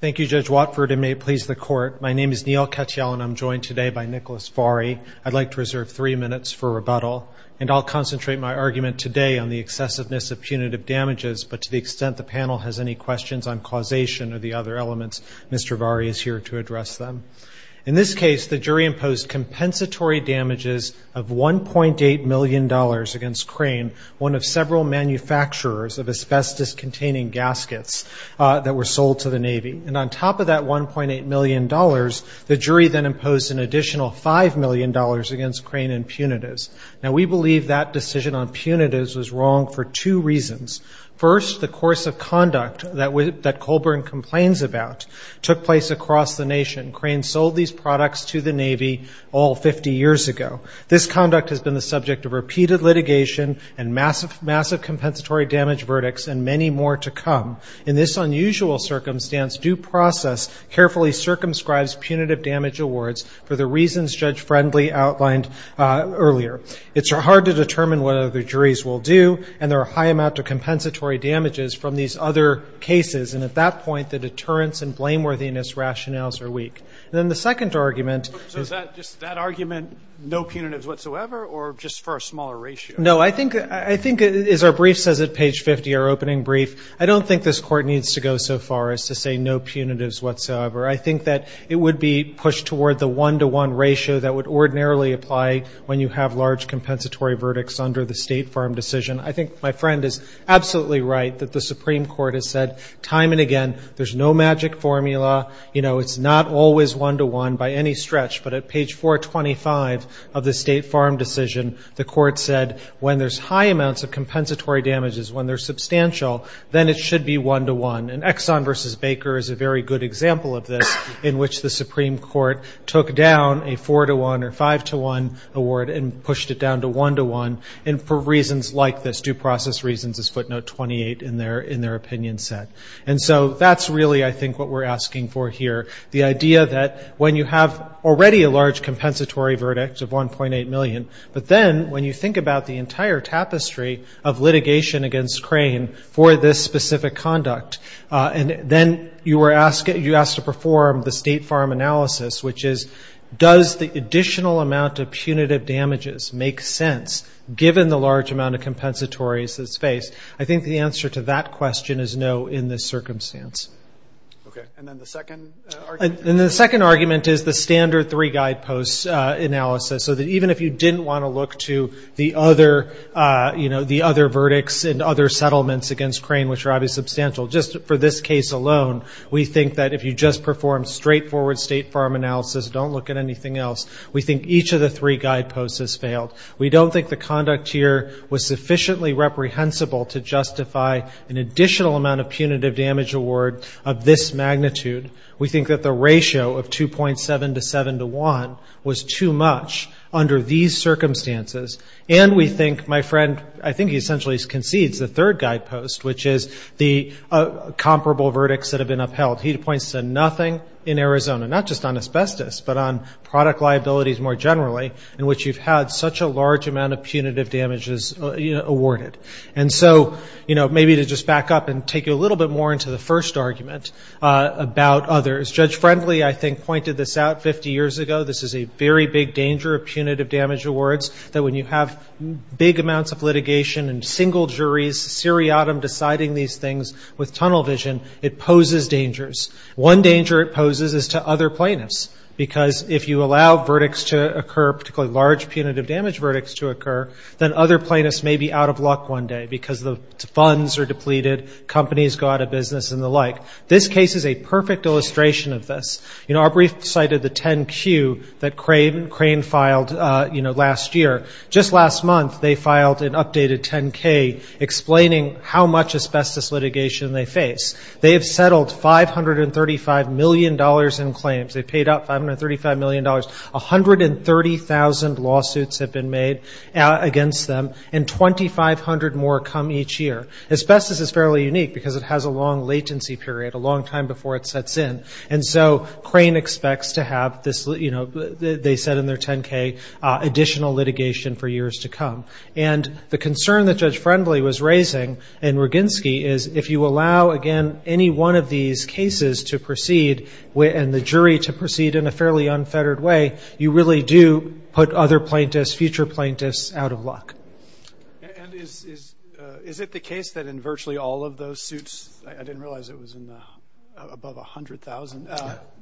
Thank you, Judge Watford, and may it please the Court. My name is Neil Katyal, and I'm joined today by Nicholas Varey. I'd like to reserve three minutes for rebuttal, and I'll concentrate my argument today on the excessiveness of punitive damages. But to the extent the panel has any questions on causation or the other elements, Mr. Varey is here to address them. In this case, the jury imposed compensatory damages of $1.8 million against Crane, one of several manufacturers of asbestos-containing gaskets that were sold to the Navy. And on top of that $1.8 million, the jury then imposed an additional $5 million against Crane and Punitivs. Now, we believe that decision on Punitivs was wrong for two reasons. First, the course of conduct that Coulbourn complains about took place across the nation. Crane sold these products to the Navy all 50 years ago. This conduct has been the subject of repeated litigation and massive, massive compensatory damage verdicts and many more to come. In this unusual circumstance, due process carefully circumscribes punitive damage awards for the reasons Judge Friendly outlined earlier. It's hard to determine what other juries will do, and there are a high amount of compensatory damages from these other cases. And at that point, the deterrence and blameworthiness rationales are weak. Then the second argument is that just that argument, no punitives whatsoever, or just for a smaller ratio? No, I think as our brief says at page 50, our opening brief, I don't think this court needs to go so far as to say no punitives whatsoever. I think that it would be pushed toward the one-to-one ratio that would ordinarily apply when you have large compensatory verdicts under the State Farm decision. I think my friend is absolutely right that the Supreme Court has said time and again, there's no magic formula. It's not always one-to-one by any stretch. But at page 425 of the State Farm decision, the court said when there's high amounts of compensatory damages, when they're substantial, then it should be one-to-one. And Exxon versus Baker is a very good example of this, in which the Supreme Court took down a four-to-one or five-to-one award and pushed it down to one-to-one. And for reasons like this, due process reasons is footnote 28 in their opinion set. And so that's really, I think, what we're asking for here. The idea that when you have already a large compensatory verdict of $1.8 million, but then when you think about the entire tapestry of litigation against Crane for this specific conduct, and then you were asked to perform the State Farm analysis, which is, does the additional amount of punitive damages make sense, given the large amount of compensatories that's faced? I think the answer to that question is no in this circumstance. OK, and then the second argument? And the second argument is the standard three-guidepost analysis, so that even if you didn't want to look to the other verdicts and other settlements against Crane, which are obviously substantial, just for this case alone, we think that if you just perform straightforward State Farm analysis, don't look at anything else, we think each of the three guideposts has failed. We don't think the conduct here was sufficiently reprehensible to justify an additional amount of punitive damage award of this magnitude. We think that the ratio of 2.7 to 7 to 1 was too much under these circumstances. And we think, my friend, I think he essentially concedes the third guidepost, which is the comparable verdicts that have been upheld. He points to nothing in Arizona, not just on asbestos, but on product liabilities more generally, in which you've had such a large amount of punitive damages awarded. And so maybe to just back up and take you a little bit more into the first argument about others, Judge Friendly, I think, pointed this out 50 years ago. This is a very big danger of punitive damage awards, that when you have big amounts of litigation and single juries, seriatim deciding these things with tunnel vision, it poses dangers. One danger it poses is to other plaintiffs. Because if you allow verdicts to occur, particularly large punitive damage verdicts to occur, then other plaintiffs may be out of luck one day because the funds are depleted, companies go out of business, and the like. This case is a perfect illustration of this. Aubrey cited the 10-Q that Crane filed last year. Just last month, they filed an updated 10-K explaining how much asbestos litigation they face. They have settled $535 million in claims. They paid out $535 million. 130,000 lawsuits have been made against them, and 2,500 more come each year. Asbestos is fairly unique because it has a long latency period, a long time before it sets in. And so Crane expects to have, they said in their 10-K, additional litigation for years to come. And the concern that Judge Friendly was raising and Roginsky is if you allow, again, any one of these cases to proceed and the jury to proceed in a fairly unfettered way, you really do put other plaintiffs, future plaintiffs, out of luck. And is it the case that in virtually all of those suits, I didn't realize it was in the above 100,000,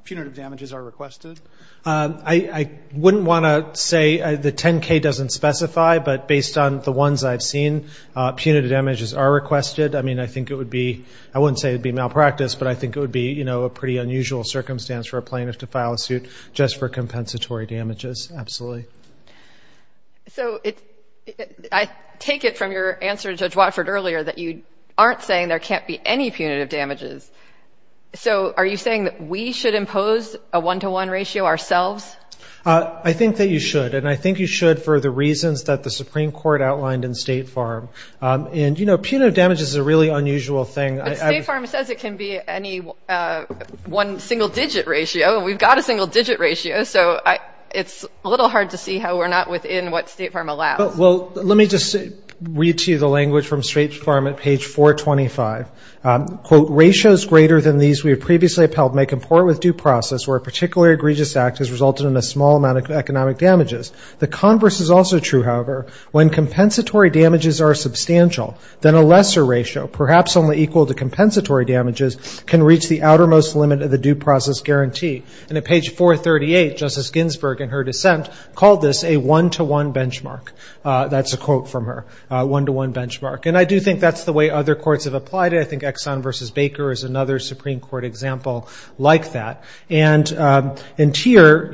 punitive damages are requested? I wouldn't want to say, the 10-K doesn't specify, but based on the ones I've seen, punitive damages are requested. I mean, I think it would be, I wouldn't say it'd be malpractice, but I think it would be a pretty unusual circumstance for a plaintiff to file a suit just for compensatory damages, absolutely. So I take it from your answer to Judge Watford earlier that you aren't saying there can't be any punitive damages. So are you saying that we should impose a one-to-one ratio ourselves? I think that you should. And I think you should for the reasons that the Supreme Court outlined in State Farm. And punitive damages is a really unusual thing. But State Farm says it can be any one single-digit ratio. We've got a single-digit ratio. So it's a little hard to see how we're not within what State Farm allows. Well, let me just read to you the language from State Farm at page 425. Quote, ratios greater than these we have previously upheld may comport with due process, where a particularly egregious act has resulted in a small amount of economic damages. The converse is also true, however, when compensatory damages are substantial, then a lesser ratio, perhaps only equal to compensatory damages, can reach the outermost limit of the due process guarantee. And at page 438, Justice Ginsburg, in her dissent, called this a one-to-one benchmark. That's a quote from her, a one-to-one benchmark. And I do think that's the way other courts have applied it. I think Exxon v. Baker is another Supreme Court example like that. And in tier,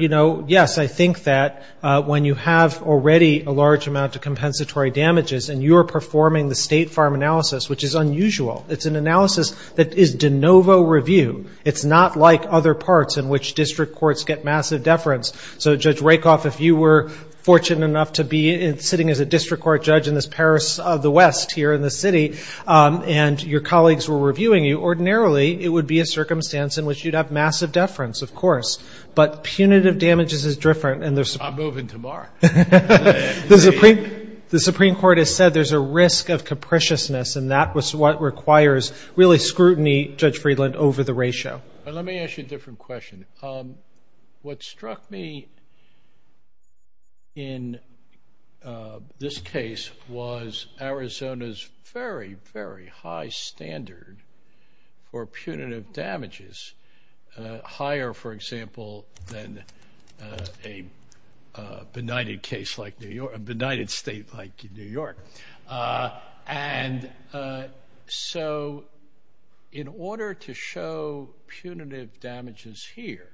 yes, I think that when you have already a large amount of compensatory damages and you are performing the State Farm analysis, which is unusual, it's an analysis that is de novo review. It's not like other parts in which district courts get massive deference. So Judge Rakoff, if you were fortunate enough to be sitting as a district court judge in this Paris of the West here in the city and your colleagues were reviewing you, ordinarily, it would be a circumstance in which you'd have massive deference, of course. But punitive damages is different. And there's some I'm moving tomorrow. The Supreme Court has said there's a risk of capriciousness. And that was what requires really scrutiny, Judge Friedland, over the ratio. Let me ask you a different question. What struck me in this case was Arizona's very, very high standard for punitive damages, higher, for example, than a benighted state like New York. And so in order to show punitive damages here,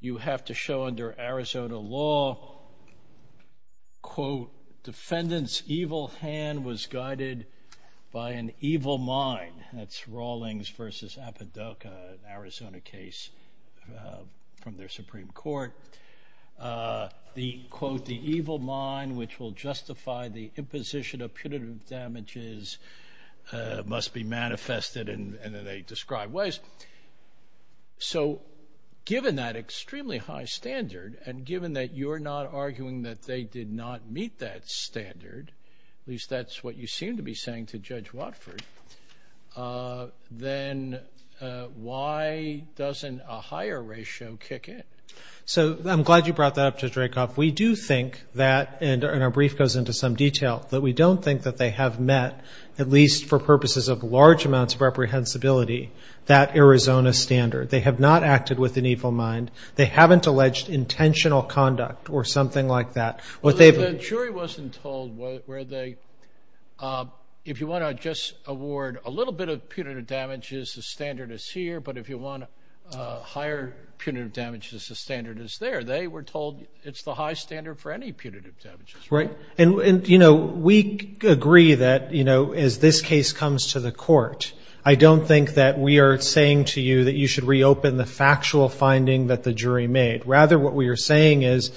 you have to show under Arizona law, quote, defendant's evil hand was guided by an evil mind. That's Rawlings versus Apoduca, an Arizona case from their Supreme Court. The, quote, the evil mind which will justify the imposition of punitive damages must be manifested in the described ways. So given that extremely high standard, and given that you're not arguing that they did not meet that standard, at least that's what you seem to be saying to Judge Watford, then why doesn't a higher ratio kick in? So I'm glad you brought that up to Dracoff. We do think that, and our brief goes into some detail, that we don't think that they have met, at least for purposes of large amounts of reprehensibility, that Arizona standard. They have not acted with an evil mind. They haven't alleged intentional conduct or something like that. What they've- The jury wasn't told where they, if you want to just award a little bit of punitive damages, the standard is here. But if you want higher punitive damages, the standard is there. They were told it's the high standard for any punitive damages. Right. And we agree that, as this case comes to the court, I don't think that we are saying to you that you should reopen the factual finding that the jury made. Rather, what we are saying is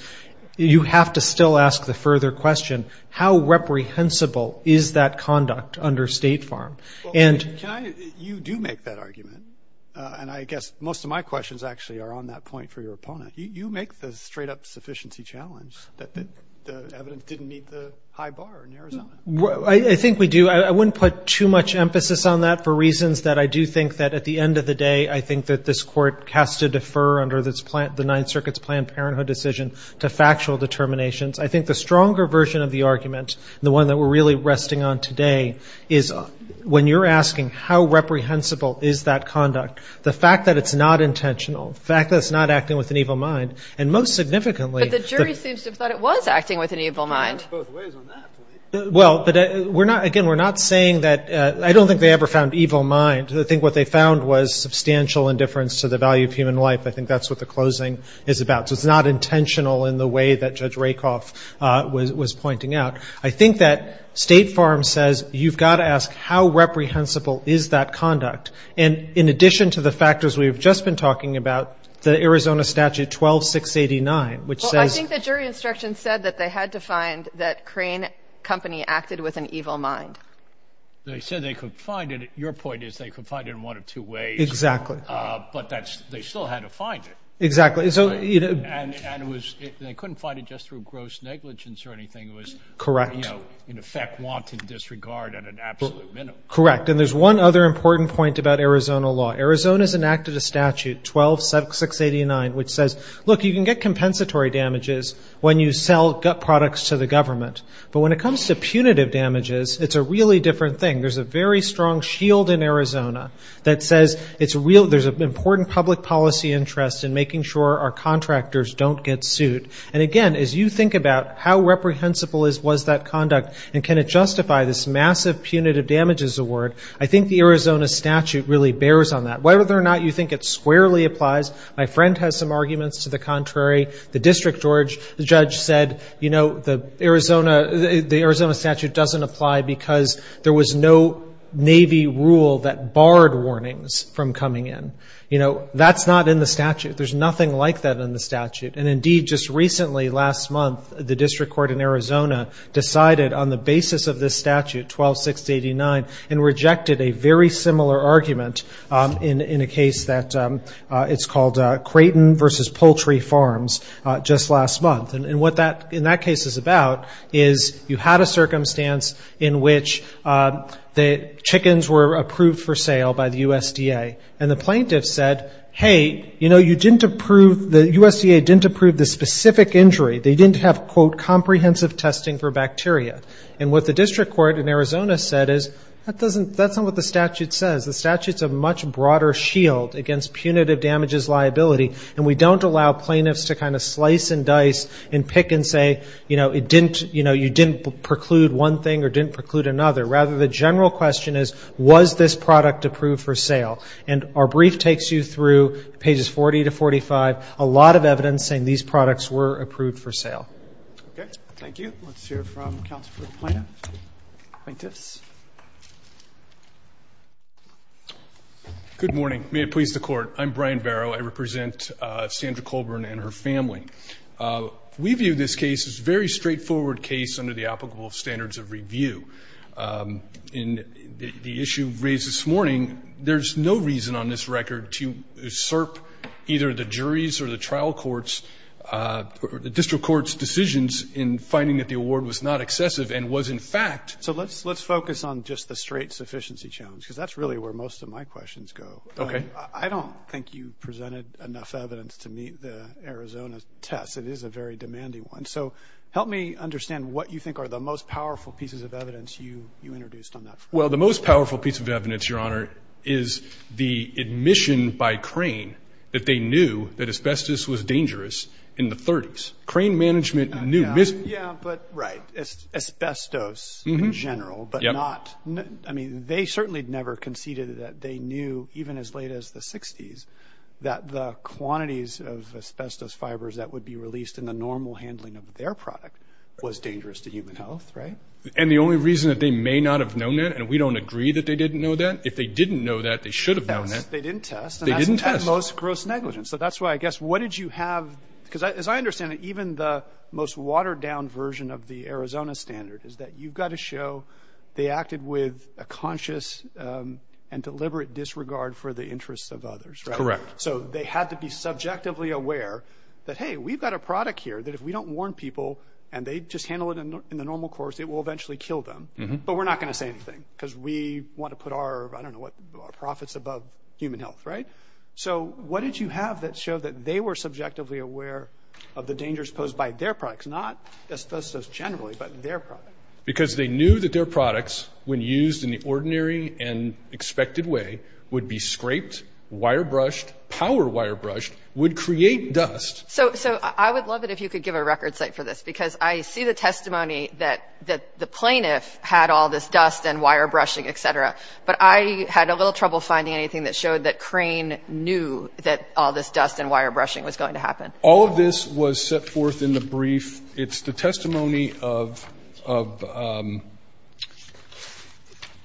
you have to still ask the further question, how reprehensible is that conduct under State Farm? And- You do make that argument. And I guess most of my questions, actually, are on that point for your opponent. You make the straight up sufficiency challenge that the evidence didn't meet the high bar in Arizona. I think we do. I wouldn't put too much emphasis on that for reasons that I do think that, at the end of the day, I think that this court has to defer under the Ninth Circuit's Planned Parenthood decision to factual determinations. I think the stronger version of the argument, the one that we're really resting on today, is when you're asking how reprehensible is that conduct, the fact that it's not intentional, the fact that it's not acting with an evil mind, and most significantly- But the jury seems to have thought it was acting with an evil mind. Both ways on that point. Well, again, we're not saying that- I don't think they ever found evil mind. I think what they found was substantial indifference to the value of human life. I think that's what the closing is about. So it's not intentional in the way that Judge Rakoff was pointing out. I think that State Farm says, you've got to ask, how reprehensible is that conduct? And in addition to the factors we've just been talking about, the Arizona statute 12-689, which says- Well, I think the jury instruction said that they had to find that Crane Company acted with an evil mind. They said they could find it. Your point is they could find it in one of two ways. Exactly. But they still had to find it. Exactly. And they couldn't find it just through gross negligence or anything. Correct. In effect, wanton disregard at an absolute minimum. Correct. And there's one other important point about Arizona law. Arizona's enacted a statute, 12-689, which says, look, you can get compensatory damages when you sell gut products to the government. But when it comes to punitive damages, it's a really different thing. There's a very strong shield in Arizona that says there's an important public policy interest in making sure our contractors don't get sued. And again, as you think about how reprehensible was that conduct, and can it justify this massive punitive damages award, I think the Arizona statute really bears on that. Whether or not you think it squarely applies, my friend has some arguments to the contrary. The district judge said the Arizona statute doesn't apply because there was no Navy rule that barred warnings from coming in. That's not in the statute. There's nothing like that in the statute. And indeed, just recently, last month, the district court in Arizona decided on the basis of this statute, 12-689, and rejected a very similar argument in a case that it's called Creighton versus Poultry Farms just last month. And what that case is about is you had a circumstance in which the chickens were approved for sale by the USDA. And the plaintiff said, hey, you know, the USDA didn't approve the specific injury. They didn't have, quote, comprehensive testing for bacteria. And what the district court in Arizona said is, that's not what the statute says. The statute's a much broader shield against punitive damages liability. And we don't allow plaintiffs to kind of slice and dice and pick and say, you know, you didn't preclude one thing or didn't preclude another. Rather, the general question is, was this product approved for sale? And our brief takes you through pages 40 to 45, a lot of evidence saying these products were approved for sale. OK. Thank you. Let's hear from counsel for the plaintiffs. Good morning. May it please the court. I'm Brian Barrow. I represent Sandra Colburn and her family. We view this case as a very straightforward case under the applicable standards of review. In the issue raised this morning, there's no reason on this record to usurp either the jury's or the trial court's or the district court's decisions in finding that the award was not excessive and was, in fact, So let's focus on just the straight sufficiency challenge. Because that's really where most of my questions go. I don't think you presented enough evidence to meet the Arizona test. It is a very demanding one. So help me understand what you think are the most powerful pieces of evidence you introduced on that. Well, the most powerful piece of evidence, Your Honor, is the admission by Crane that they knew that asbestos was dangerous in the 30s. Crane management knew. Yeah, but right. Asbestos in general, but not. I mean, they certainly never conceded that they knew, even as late as the 60s, that the quantities of asbestos fibers that would be released in the normal handling of their product was dangerous to human health, right? And the only reason that they may not have known that, and we don't agree that they didn't know that, if they didn't know that, they should have known that. They didn't test. They didn't test. And that's at most gross negligence. So that's why I guess, what did you have? Because as I understand it, even the most watered down version of the Arizona standard is that you've got to show they acted with a conscious and deliberate disregard for the interests of others, right? So they had to be subjectively aware that, hey, we've got a product here that if we don't warn people and they just handle it in the normal course, it will eventually kill them. But we're not going to say anything, because we want to put our profits above human health, right? So what did you have that showed that they were subjectively aware of the dangers posed by their products, not asbestos generally, but their product? Because they knew that their products, when used in the ordinary and expected way, would be scraped, wire brushed, power wire brushed, would create dust. So I would love it if you could give a record site for this, because I see the testimony that the plaintiff had all this dust and wire brushing, et cetera. But I had a little trouble finding anything that showed that Crane knew that all this dust and wire brushing was going to happen. All of this was set forth in the brief. It's the testimony of Mr.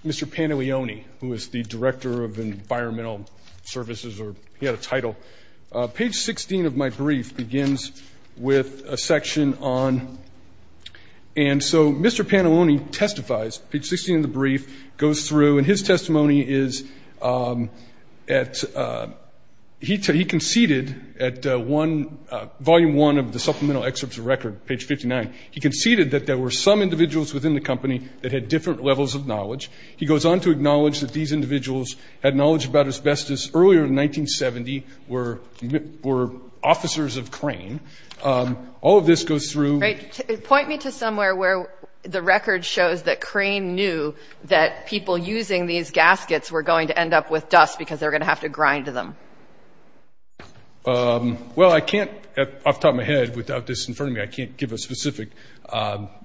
Panaglioni, who is the Director of Environmental Services, or he had a title. Page 16 of my brief begins with a section on, and so Mr. Panaglioni testifies. Page 16 of the brief goes through, and his testimony is at, he conceded at one, volume one of the supplemental excerpts of record, page 59. He conceded that there were some individuals within the company that had different levels of knowledge. He goes on to acknowledge that these individuals had knowledge about asbestos earlier in 1970, were officers of Crane. All of this goes through. Point me to somewhere where the record shows that Crane knew that people using these gaskets were going to end up with dust, because they're going to have to grind them. Well, I can't, off the top of my head, without this in front of me, I can't give a specific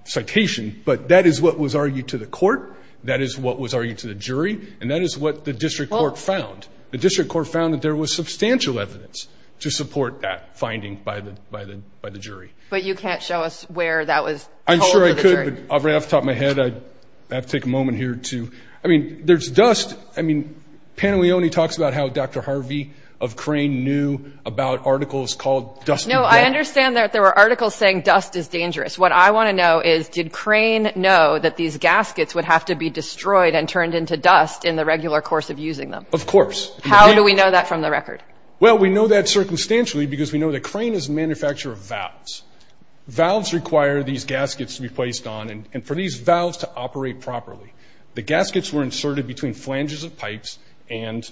citation. But that is what was argued to the court. That is what was argued to the jury. And that is what the district court found. The district court found that there was substantial evidence to support that finding by the jury. But you can't show us where that was told to the jury. I'm sure I could, but off the top of my head, I'd have to take a moment here to, I mean, there's dust. I mean, Panaglioni talks about how Dr. Harvey of Crane knew about articles called dust. No, I understand that there were articles saying dust is dangerous. What I want to know is, did Crane know that these gaskets would have to be destroyed and turned into dust in the regular course of using them? Of course. How do we know that from the record? Well, we know that circumstantially because we know that Crane is a manufacturer of valves. Valves require these gaskets to be placed on. And for these valves to operate properly, the gaskets were inserted between flanges of pipes and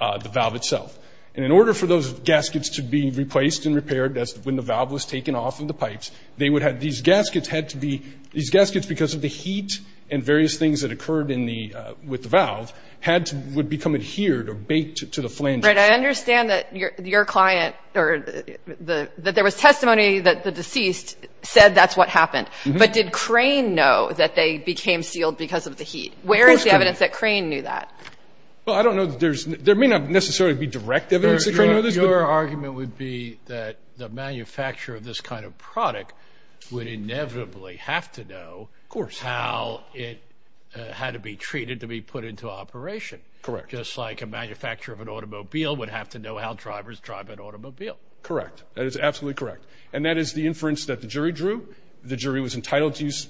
the valve itself. And in order for those gaskets to be replaced and repaired, that's when the valve was taken off of the pipes, they would have, these gaskets had to be, these gaskets, because of the heat and various things that occurred in the, with the valve, had to, would become adhered or baked to the flange. Right, I understand that your client, or that there was testimony that the deceased said that's what happened. But did Crane know that they became sealed because of the heat? Where is the evidence that Crane knew that? Well, I don't know that there's, there may not necessarily be direct evidence that Crane knew this. Your argument would be that the manufacturer of this kind of product would inevitably have to know how it had to be treated to be put into operation. Correct. Just like a manufacturer of an automobile would have to know how drivers drive an automobile. Correct. That is absolutely correct. And that is the inference that the jury drew. The jury was entitled to use,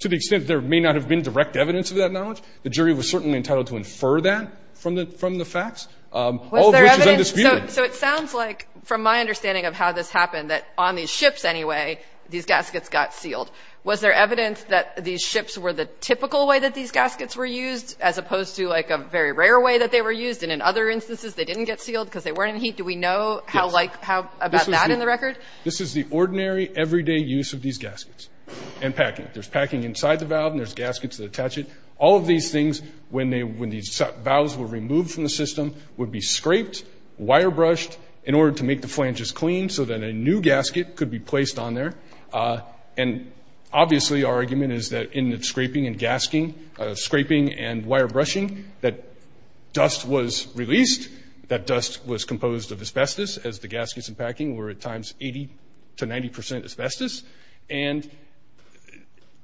to the extent there may not have been direct evidence of that knowledge, the jury was certainly entitled to infer that from the facts, all of which is undisputed. So it sounds like, from my understanding of how this happened, that on these ships anyway, these gaskets got sealed. Was there evidence that these ships were the typical way that these gaskets were used, as opposed to like a very rare way that they were used? And in other instances, they didn't get sealed because they weren't in heat. Do we know how about that in the record? This is the ordinary everyday use of these gaskets and packing. There's packing inside the valve and there's gaskets that attach it. All of these things, when these valves were removed from the system, would be scraped, wire brushed in order to make the flanges clean so that a new gasket could be placed on there. And obviously our argument is that in the scraping and gasking, scraping and wire brushing, that dust was released, that dust was composed of asbestos as the gaskets and packing were at times 80 to 90% asbestos. And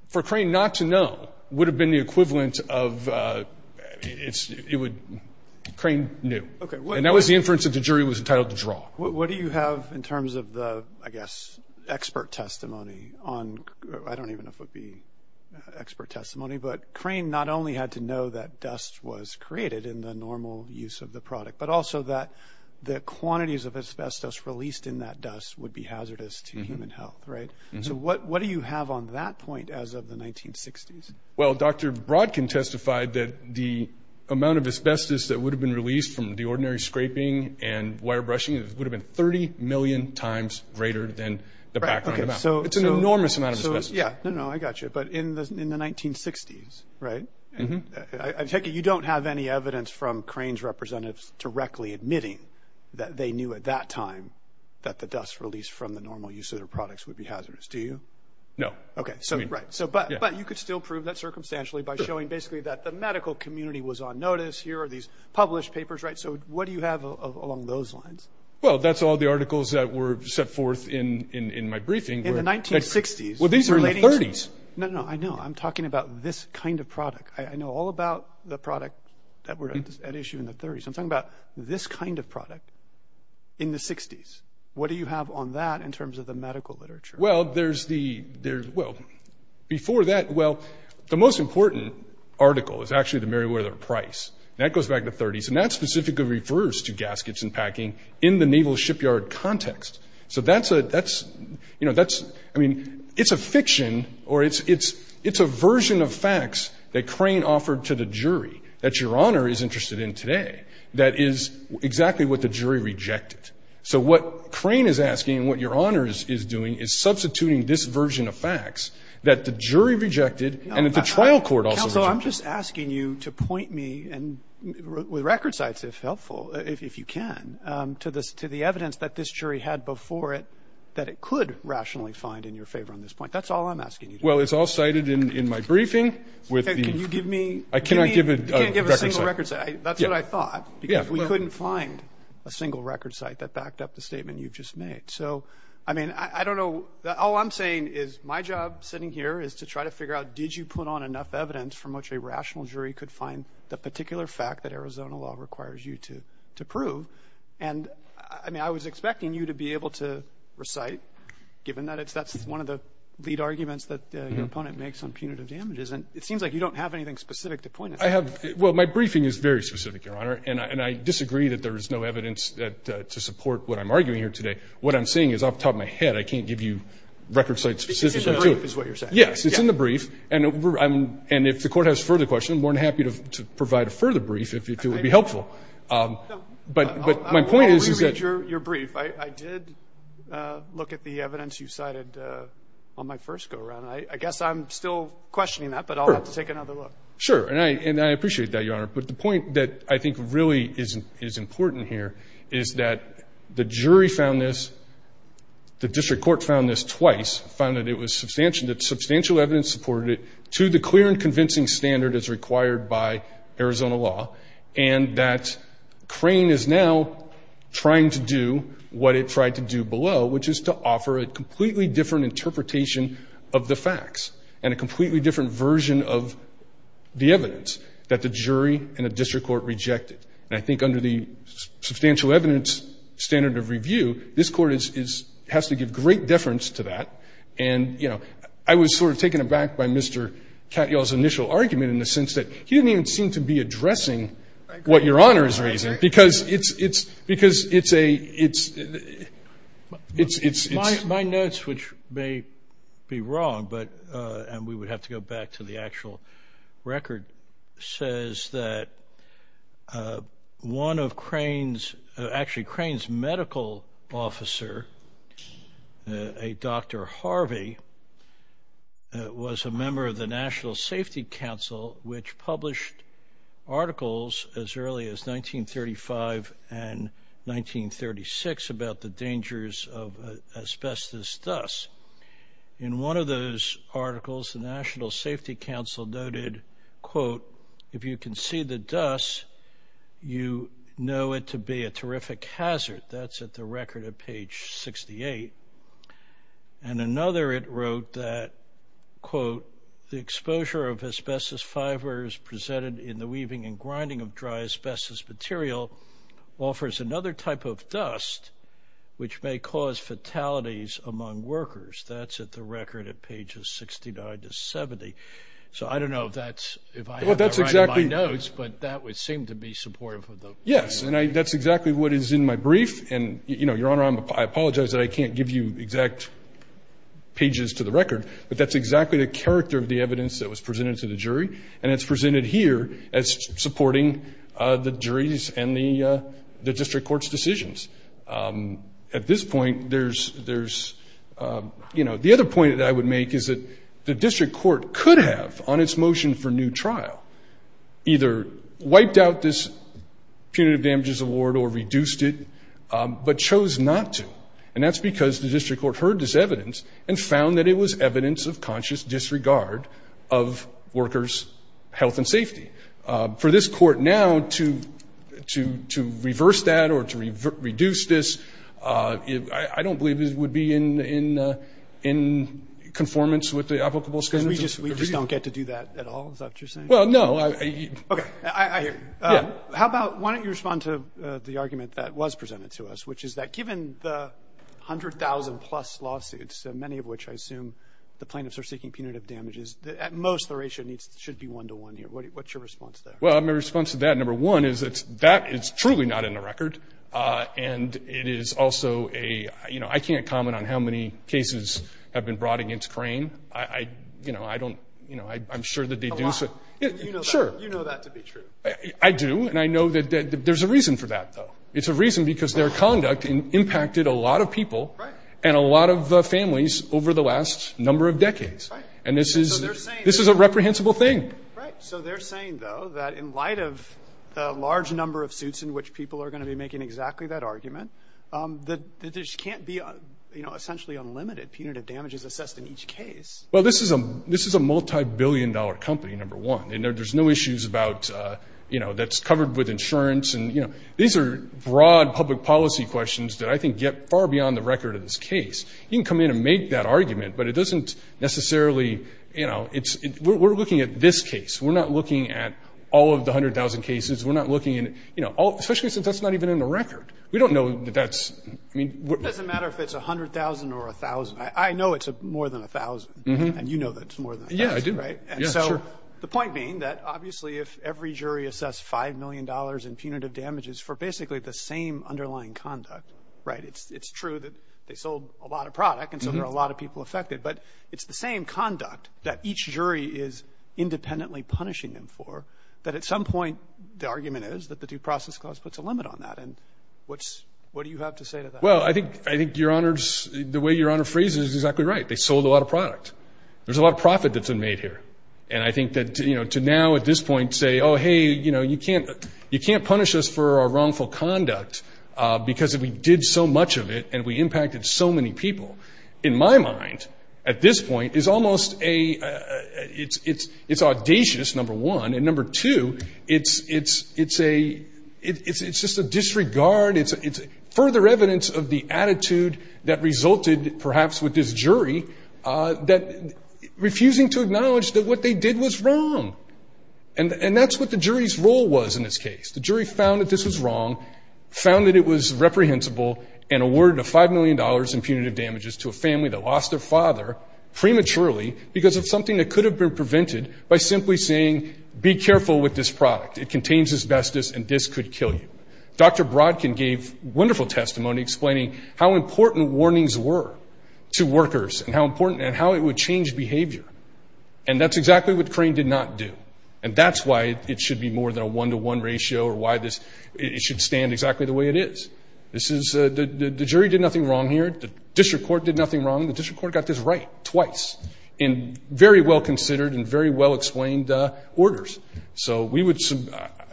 for Crane not to know, would have been the equivalent of, Crane knew. And that was the inference that the jury was entitled to draw. What do you have in terms of the, I guess, expert testimony on, I don't even know if it would be expert testimony, but Crane not only had to know that dust was created in the normal use of the product, but also that the quantities of asbestos released in that dust would be hazardous to human health, right? So what do you have on that point as of the 1960s? Well, Dr. Brodkin testified that the amount of asbestos that would have been released from the ordinary scraping and wire brushing would have been 30 million times greater than the background amount. It's an enormous amount of asbestos. Yeah, no, no, I got you. But in the 1960s, right? I take it you don't have any evidence from Crane's representatives directly admitting that they knew at that time that the dust released from the normal use of their products would be hazardous. Do you? No. Okay, so, right. So, but you could still prove that circumstantially by showing basically that the medical community was on notice, here are these published papers, right? So what do you have along those lines? Well, that's all the articles that were set forth in my briefing. In the 1960s? Well, these are in the 30s. No, no, I know. I'm talking about this kind of product. I know all about the product that were at issue in the 30s. I'm talking about this kind of product in the 60s. What do you have on that in terms of the medical literature? Well, there's the, well, before that, well, the most important article is actually the Merriweather Price. That goes back to the 30s. And that specifically refers to gaskets and packing in the naval shipyard context. So that's a, that's, you know, that's, I mean, it's a fiction, or it's a version of facts that Crane offered to the jury that Your Honor is interested in today that is exactly what the jury rejected. So what Crane is asking and what Your Honor is doing is substituting this version of facts that the jury rejected, and that the trial court also rejected. Counsel, I'm just asking you to point me, and with record sites, if helpful, if you can, to the evidence that this jury had before it that it could rationally find in your favor on this point. That's all I'm asking you to do. Well, it's all cited in my briefing with the- Can you give me- I cannot give a record site. You can't give a single record site. That's what I thought. Yeah, well- Because we couldn't find a single record site that backed up the statement you've just made. So, I mean, I don't know, all I'm saying is my job sitting here is to try to figure out, did you put on enough evidence from which a rational jury could find the particular fact that Arizona law requires you to prove? And, I mean, I was expecting you to be able to recite, given that that's one of the lead arguments that your opponent makes on punitive damages, and it seems like you don't have anything specific to point at. I have, well, my briefing is very specific, Your Honor, and I disagree that there is no evidence to support what I'm arguing here today. What I'm saying is, off the top of my head, I can't give you record sites specifically to- Because it's in the brief is what you're saying. Yes, it's in the brief, and if the court has further questions, I'm more than happy to provide a further brief if it would be helpful. But my point is that- I'll reread your brief. I did look at the evidence you cited on my first go-around. I guess I'm still questioning that, but I'll have to take another look. Sure, and I appreciate that, Your Honor, but the point that I think really is important here is that the jury found this, the district court found this twice, found that it was substantial, that substantial evidence supported it to the clear and convincing standard as required by Arizona law, and that Crane is now trying to do what it tried to do below, which is to offer a completely different interpretation of the facts and a completely different version of the evidence that the jury and the district court rejected, and I think under the substantial evidence standard of review, this court has to give great deference to that, and, you know, I was sort of taken aback by Mr. Katyal's initial argument in the sense that he didn't even seem to be addressing what Your Honor is raising, because it's, it's, because it's a, it's, it's, it's- My notes, which may be wrong, but, and we would have to go back to the actual record, says that one of Crane's, actually Crane's medical officer, a Dr. Harvey, was a member of the National Safety Council, which published articles as early as 1935 and 1936 about the dangers of asbestos dust. In one of those articles, the National Safety Council noted, quote, if you can see the dust, you know it to be a terrific hazard. That's at the record at page 68. And another, it wrote that, quote, the exposure of asbestos fibers presented in the weaving and grinding of dry asbestos material offers another type of dust, which may cause fatalities among workers. That's at the record at pages 69 to 70. So I don't know if that's, if I have to write in my notes, but that would seem to be supportive of the- Yes, and that's exactly what is in my brief. And, you know, Your Honor, I apologize that I can't give you exact pages to the record, but that's exactly the character of the evidence that was presented to the jury. And it's presented here as supporting the jury's and the district court's decisions. At this point, there's, you know, the other point that I would make is that the district court could have, on its motion for new trial, either wiped out this punitive damages award or reduced it, but chose not to. And that's because the district court heard this evidence and found that it was evidence of conscious disregard of workers' health and safety. For this court now to reverse that or to reduce this, I don't believe it would be in conformance with the applicable standards. Because we just don't get to do that at all, is that what you're saying? Well, no. Okay, I hear you. How about, why don't you respond to the argument that was presented to us, which is that, given the 100,000 plus lawsuits, many of which I assume the plaintiffs are seeking punitive damages, at most the ratio should be one to one here. What's your response to that? Well, my response to that, number one, is that that is truly not in the record. And it is also a, you know, I can't comment on how many cases have been brought against Crane. I, you know, I don't, you know, I'm sure that they do. Sure. You know that to be true. I do, and I know that there's a reason for that, though. It's a reason because their conduct impacted a lot of people and a lot of families over the last number of decades. And this is a reprehensible thing. Right, so they're saying, though, that in light of the large number of suits in which people are gonna be making exactly that argument, that there just can't be, you know, essentially unlimited punitive damages assessed in each case. Well, this is a multi-billion dollar company, number one. And there's no issues about, you know, that's covered with insurance. And, you know, these are broad public policy questions that I think get far beyond the record of this case. You can come in and make that argument, but it doesn't necessarily, you know, it's, we're looking at this case. We're not looking at all of the 100,000 cases. We're not looking at, you know, especially since that's not even in the record. We don't know that that's, I mean. It doesn't matter if it's 100,000 or 1,000. I know it's more than 1,000. And you know that it's more than 1,000, right? And so the point being that obviously if every jury assess $5 million in punitive damages for basically the same underlying conduct, right? It's true that they sold a lot of product and so there are a lot of people affected, but it's the same conduct that each jury is independently punishing them for, that at some point the argument is that the due process clause puts a limit on that. And what do you have to say to that? Well, I think your Honor's, the way your Honor phrases it is exactly right. They sold a lot of product. There's a lot of profit that's been made here. And I think that, you know, to now at this point say, oh, hey, you know, you can't punish us for our wrongful conduct because we did so much of it and we impacted so many people. In my mind, at this point, it's almost a, it's audacious, number one. And number two, it's just a disregard. It's further evidence of the attitude that resulted perhaps with this jury that refusing to acknowledge that what they did was wrong. And that's what the jury's role was in this case. The jury found that this was wrong, found that it was reprehensible and awarded a $5 million in punitive damages to a family that lost their father prematurely because of something that could have been prevented by simply saying, be careful with this product. It contains asbestos and this could kill you. Dr. Brodkin gave wonderful testimony explaining how important warnings were to workers and how important and how it would change behavior. And that's exactly what Crane did not do. And that's why it should be more than a one-to-one ratio or why this, it should stand exactly the way it is. This is, the jury did nothing wrong here. The district court did nothing wrong. The district court got this right twice in very well-considered and very well-explained orders. So we would,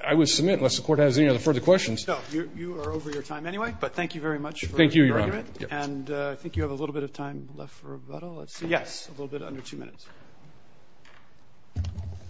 I would submit, unless the court has any other further questions. So you are over your time anyway, but thank you very much for your argument. Thank you, Your Honor. And I think you have a little bit of time left for rebuttal. Let's see. Yes. A little bit under two minutes.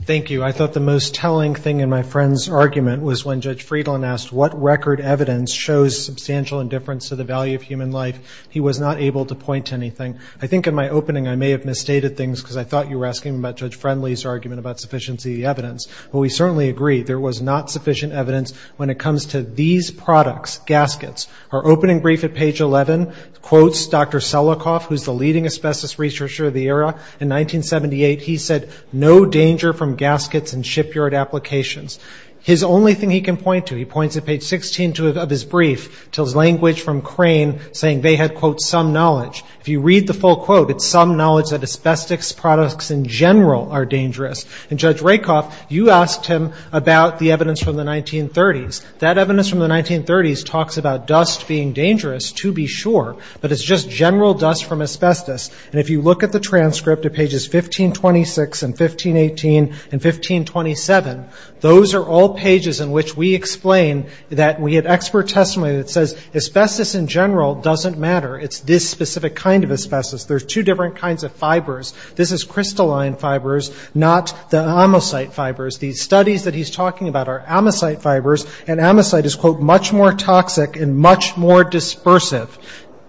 Thank you. I thought the most telling thing in my friend's argument was when Judge Friedland asked, what record evidence shows substantial indifference to the value of human life? He was not able to point to anything. I think in my opening, I may have misstated things because I thought you were asking about Judge Friendly's argument about sufficiency evidence. Well, we certainly agree. There was not sufficient evidence when it comes to these products, gaskets. Our opening brief at page 11 quotes Dr. Selikoff, who's the leading asbestos researcher of the era. In 1978, he said, no danger from gaskets and shipyard applications. His only thing he can point to, he points at page 16 of his brief, tells language from Crane saying they had, quote, some knowledge. If you read the full quote, it's some knowledge that asbestos products in general are dangerous. And Judge Rakoff, you asked him about the evidence from the 1930s. That evidence from the 1930s talks about dust being dangerous to be sure, but it's just general dust from asbestos. And if you look at the transcript of pages 1526 and 1518 and 1527, those are all pages in which we explain that we had expert testimony that says asbestos in general doesn't matter. It's this specific kind of asbestos. There's two different kinds of fibers. This is crystalline fibers, not the amosite fibers. These studies that he's talking about are amosite fibers, and amosite is, quote, much more toxic and much more dispersive.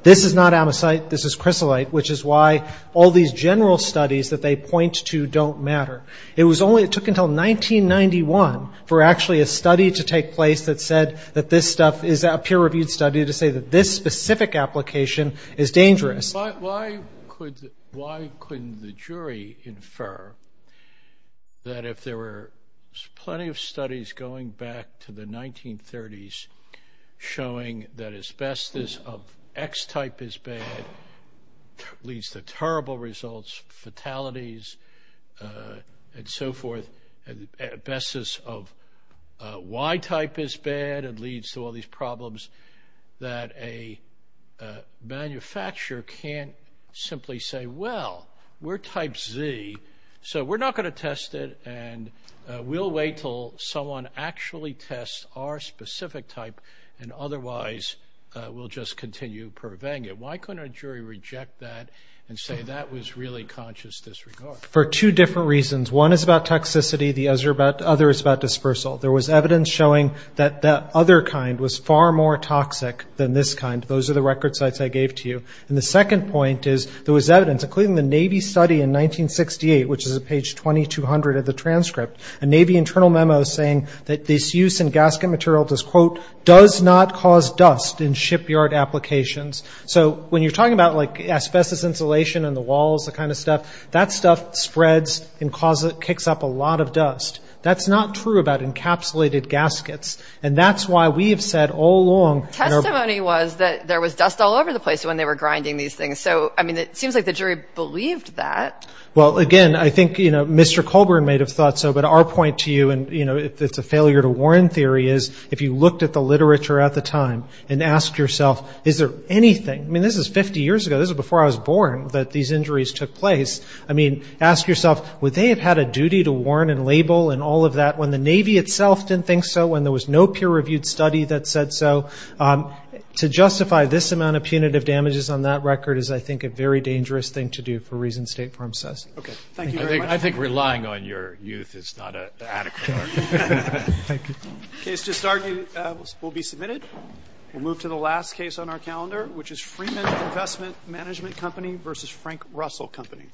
This is not amosite, this is crystallite, which is why all these general studies that they point to don't matter. It was only, it took until 1991 for actually a study to take place that said that this stuff is a peer-reviewed study to say that this specific application is dangerous. Why couldn't the jury infer that if there were plenty of studies going back to the 1930s showing that asbestos of X type is bad, leads to terrible results, fatalities, and so forth, asbestos of Y type is bad, and leads to all these problems, that a manufacturer can't simply say, well, we're type Z, so we're not gonna test it, and we'll wait till someone actually tests our specific type, and otherwise, we'll just continue purveying it. Why couldn't a jury reject that and say that was really conscious disregard? For two different reasons. One is about toxicity, the other is about dispersal. There was evidence showing that that other kind was far more toxic than this kind. Those are the record sites I gave to you. And the second point is, there was evidence, including the Navy study in 1968, which is at page 2200 of the transcript, a Navy internal memo saying that this use in gasket material does, quote, does not cause dust in shipyard applications. So when you're talking about asbestos insulation in the walls, that kind of stuff, that stuff spreads and kicks up a lot of dust. That's not true about encapsulated gaskets, and that's why we have said all along. Testimony was that there was dust all over the place when they were grinding these things. So, I mean, it seems like the jury believed that. Well, again, I think Mr. Colburn may have thought so, but our point to you, and it's a failure to warn theory, is if you looked at the literature at the time and asked yourself, is there anything, I mean, this is 50 years ago, this is before I was born, that these injuries took place. I mean, ask yourself, would they have had a duty to warn and label and all of that when the Navy itself didn't think so, when there was no peer-reviewed study that said so. To justify this amount of punitive damages on that record is, I think, a very dangerous thing to do for reasons State Farm says. Okay, thank you very much. I think relying on your youth is not adequate. Thank you. Case to start will be submitted. We'll move to the last case on our calendar, which is Freeman Investment Management Company versus Frank Russell Company.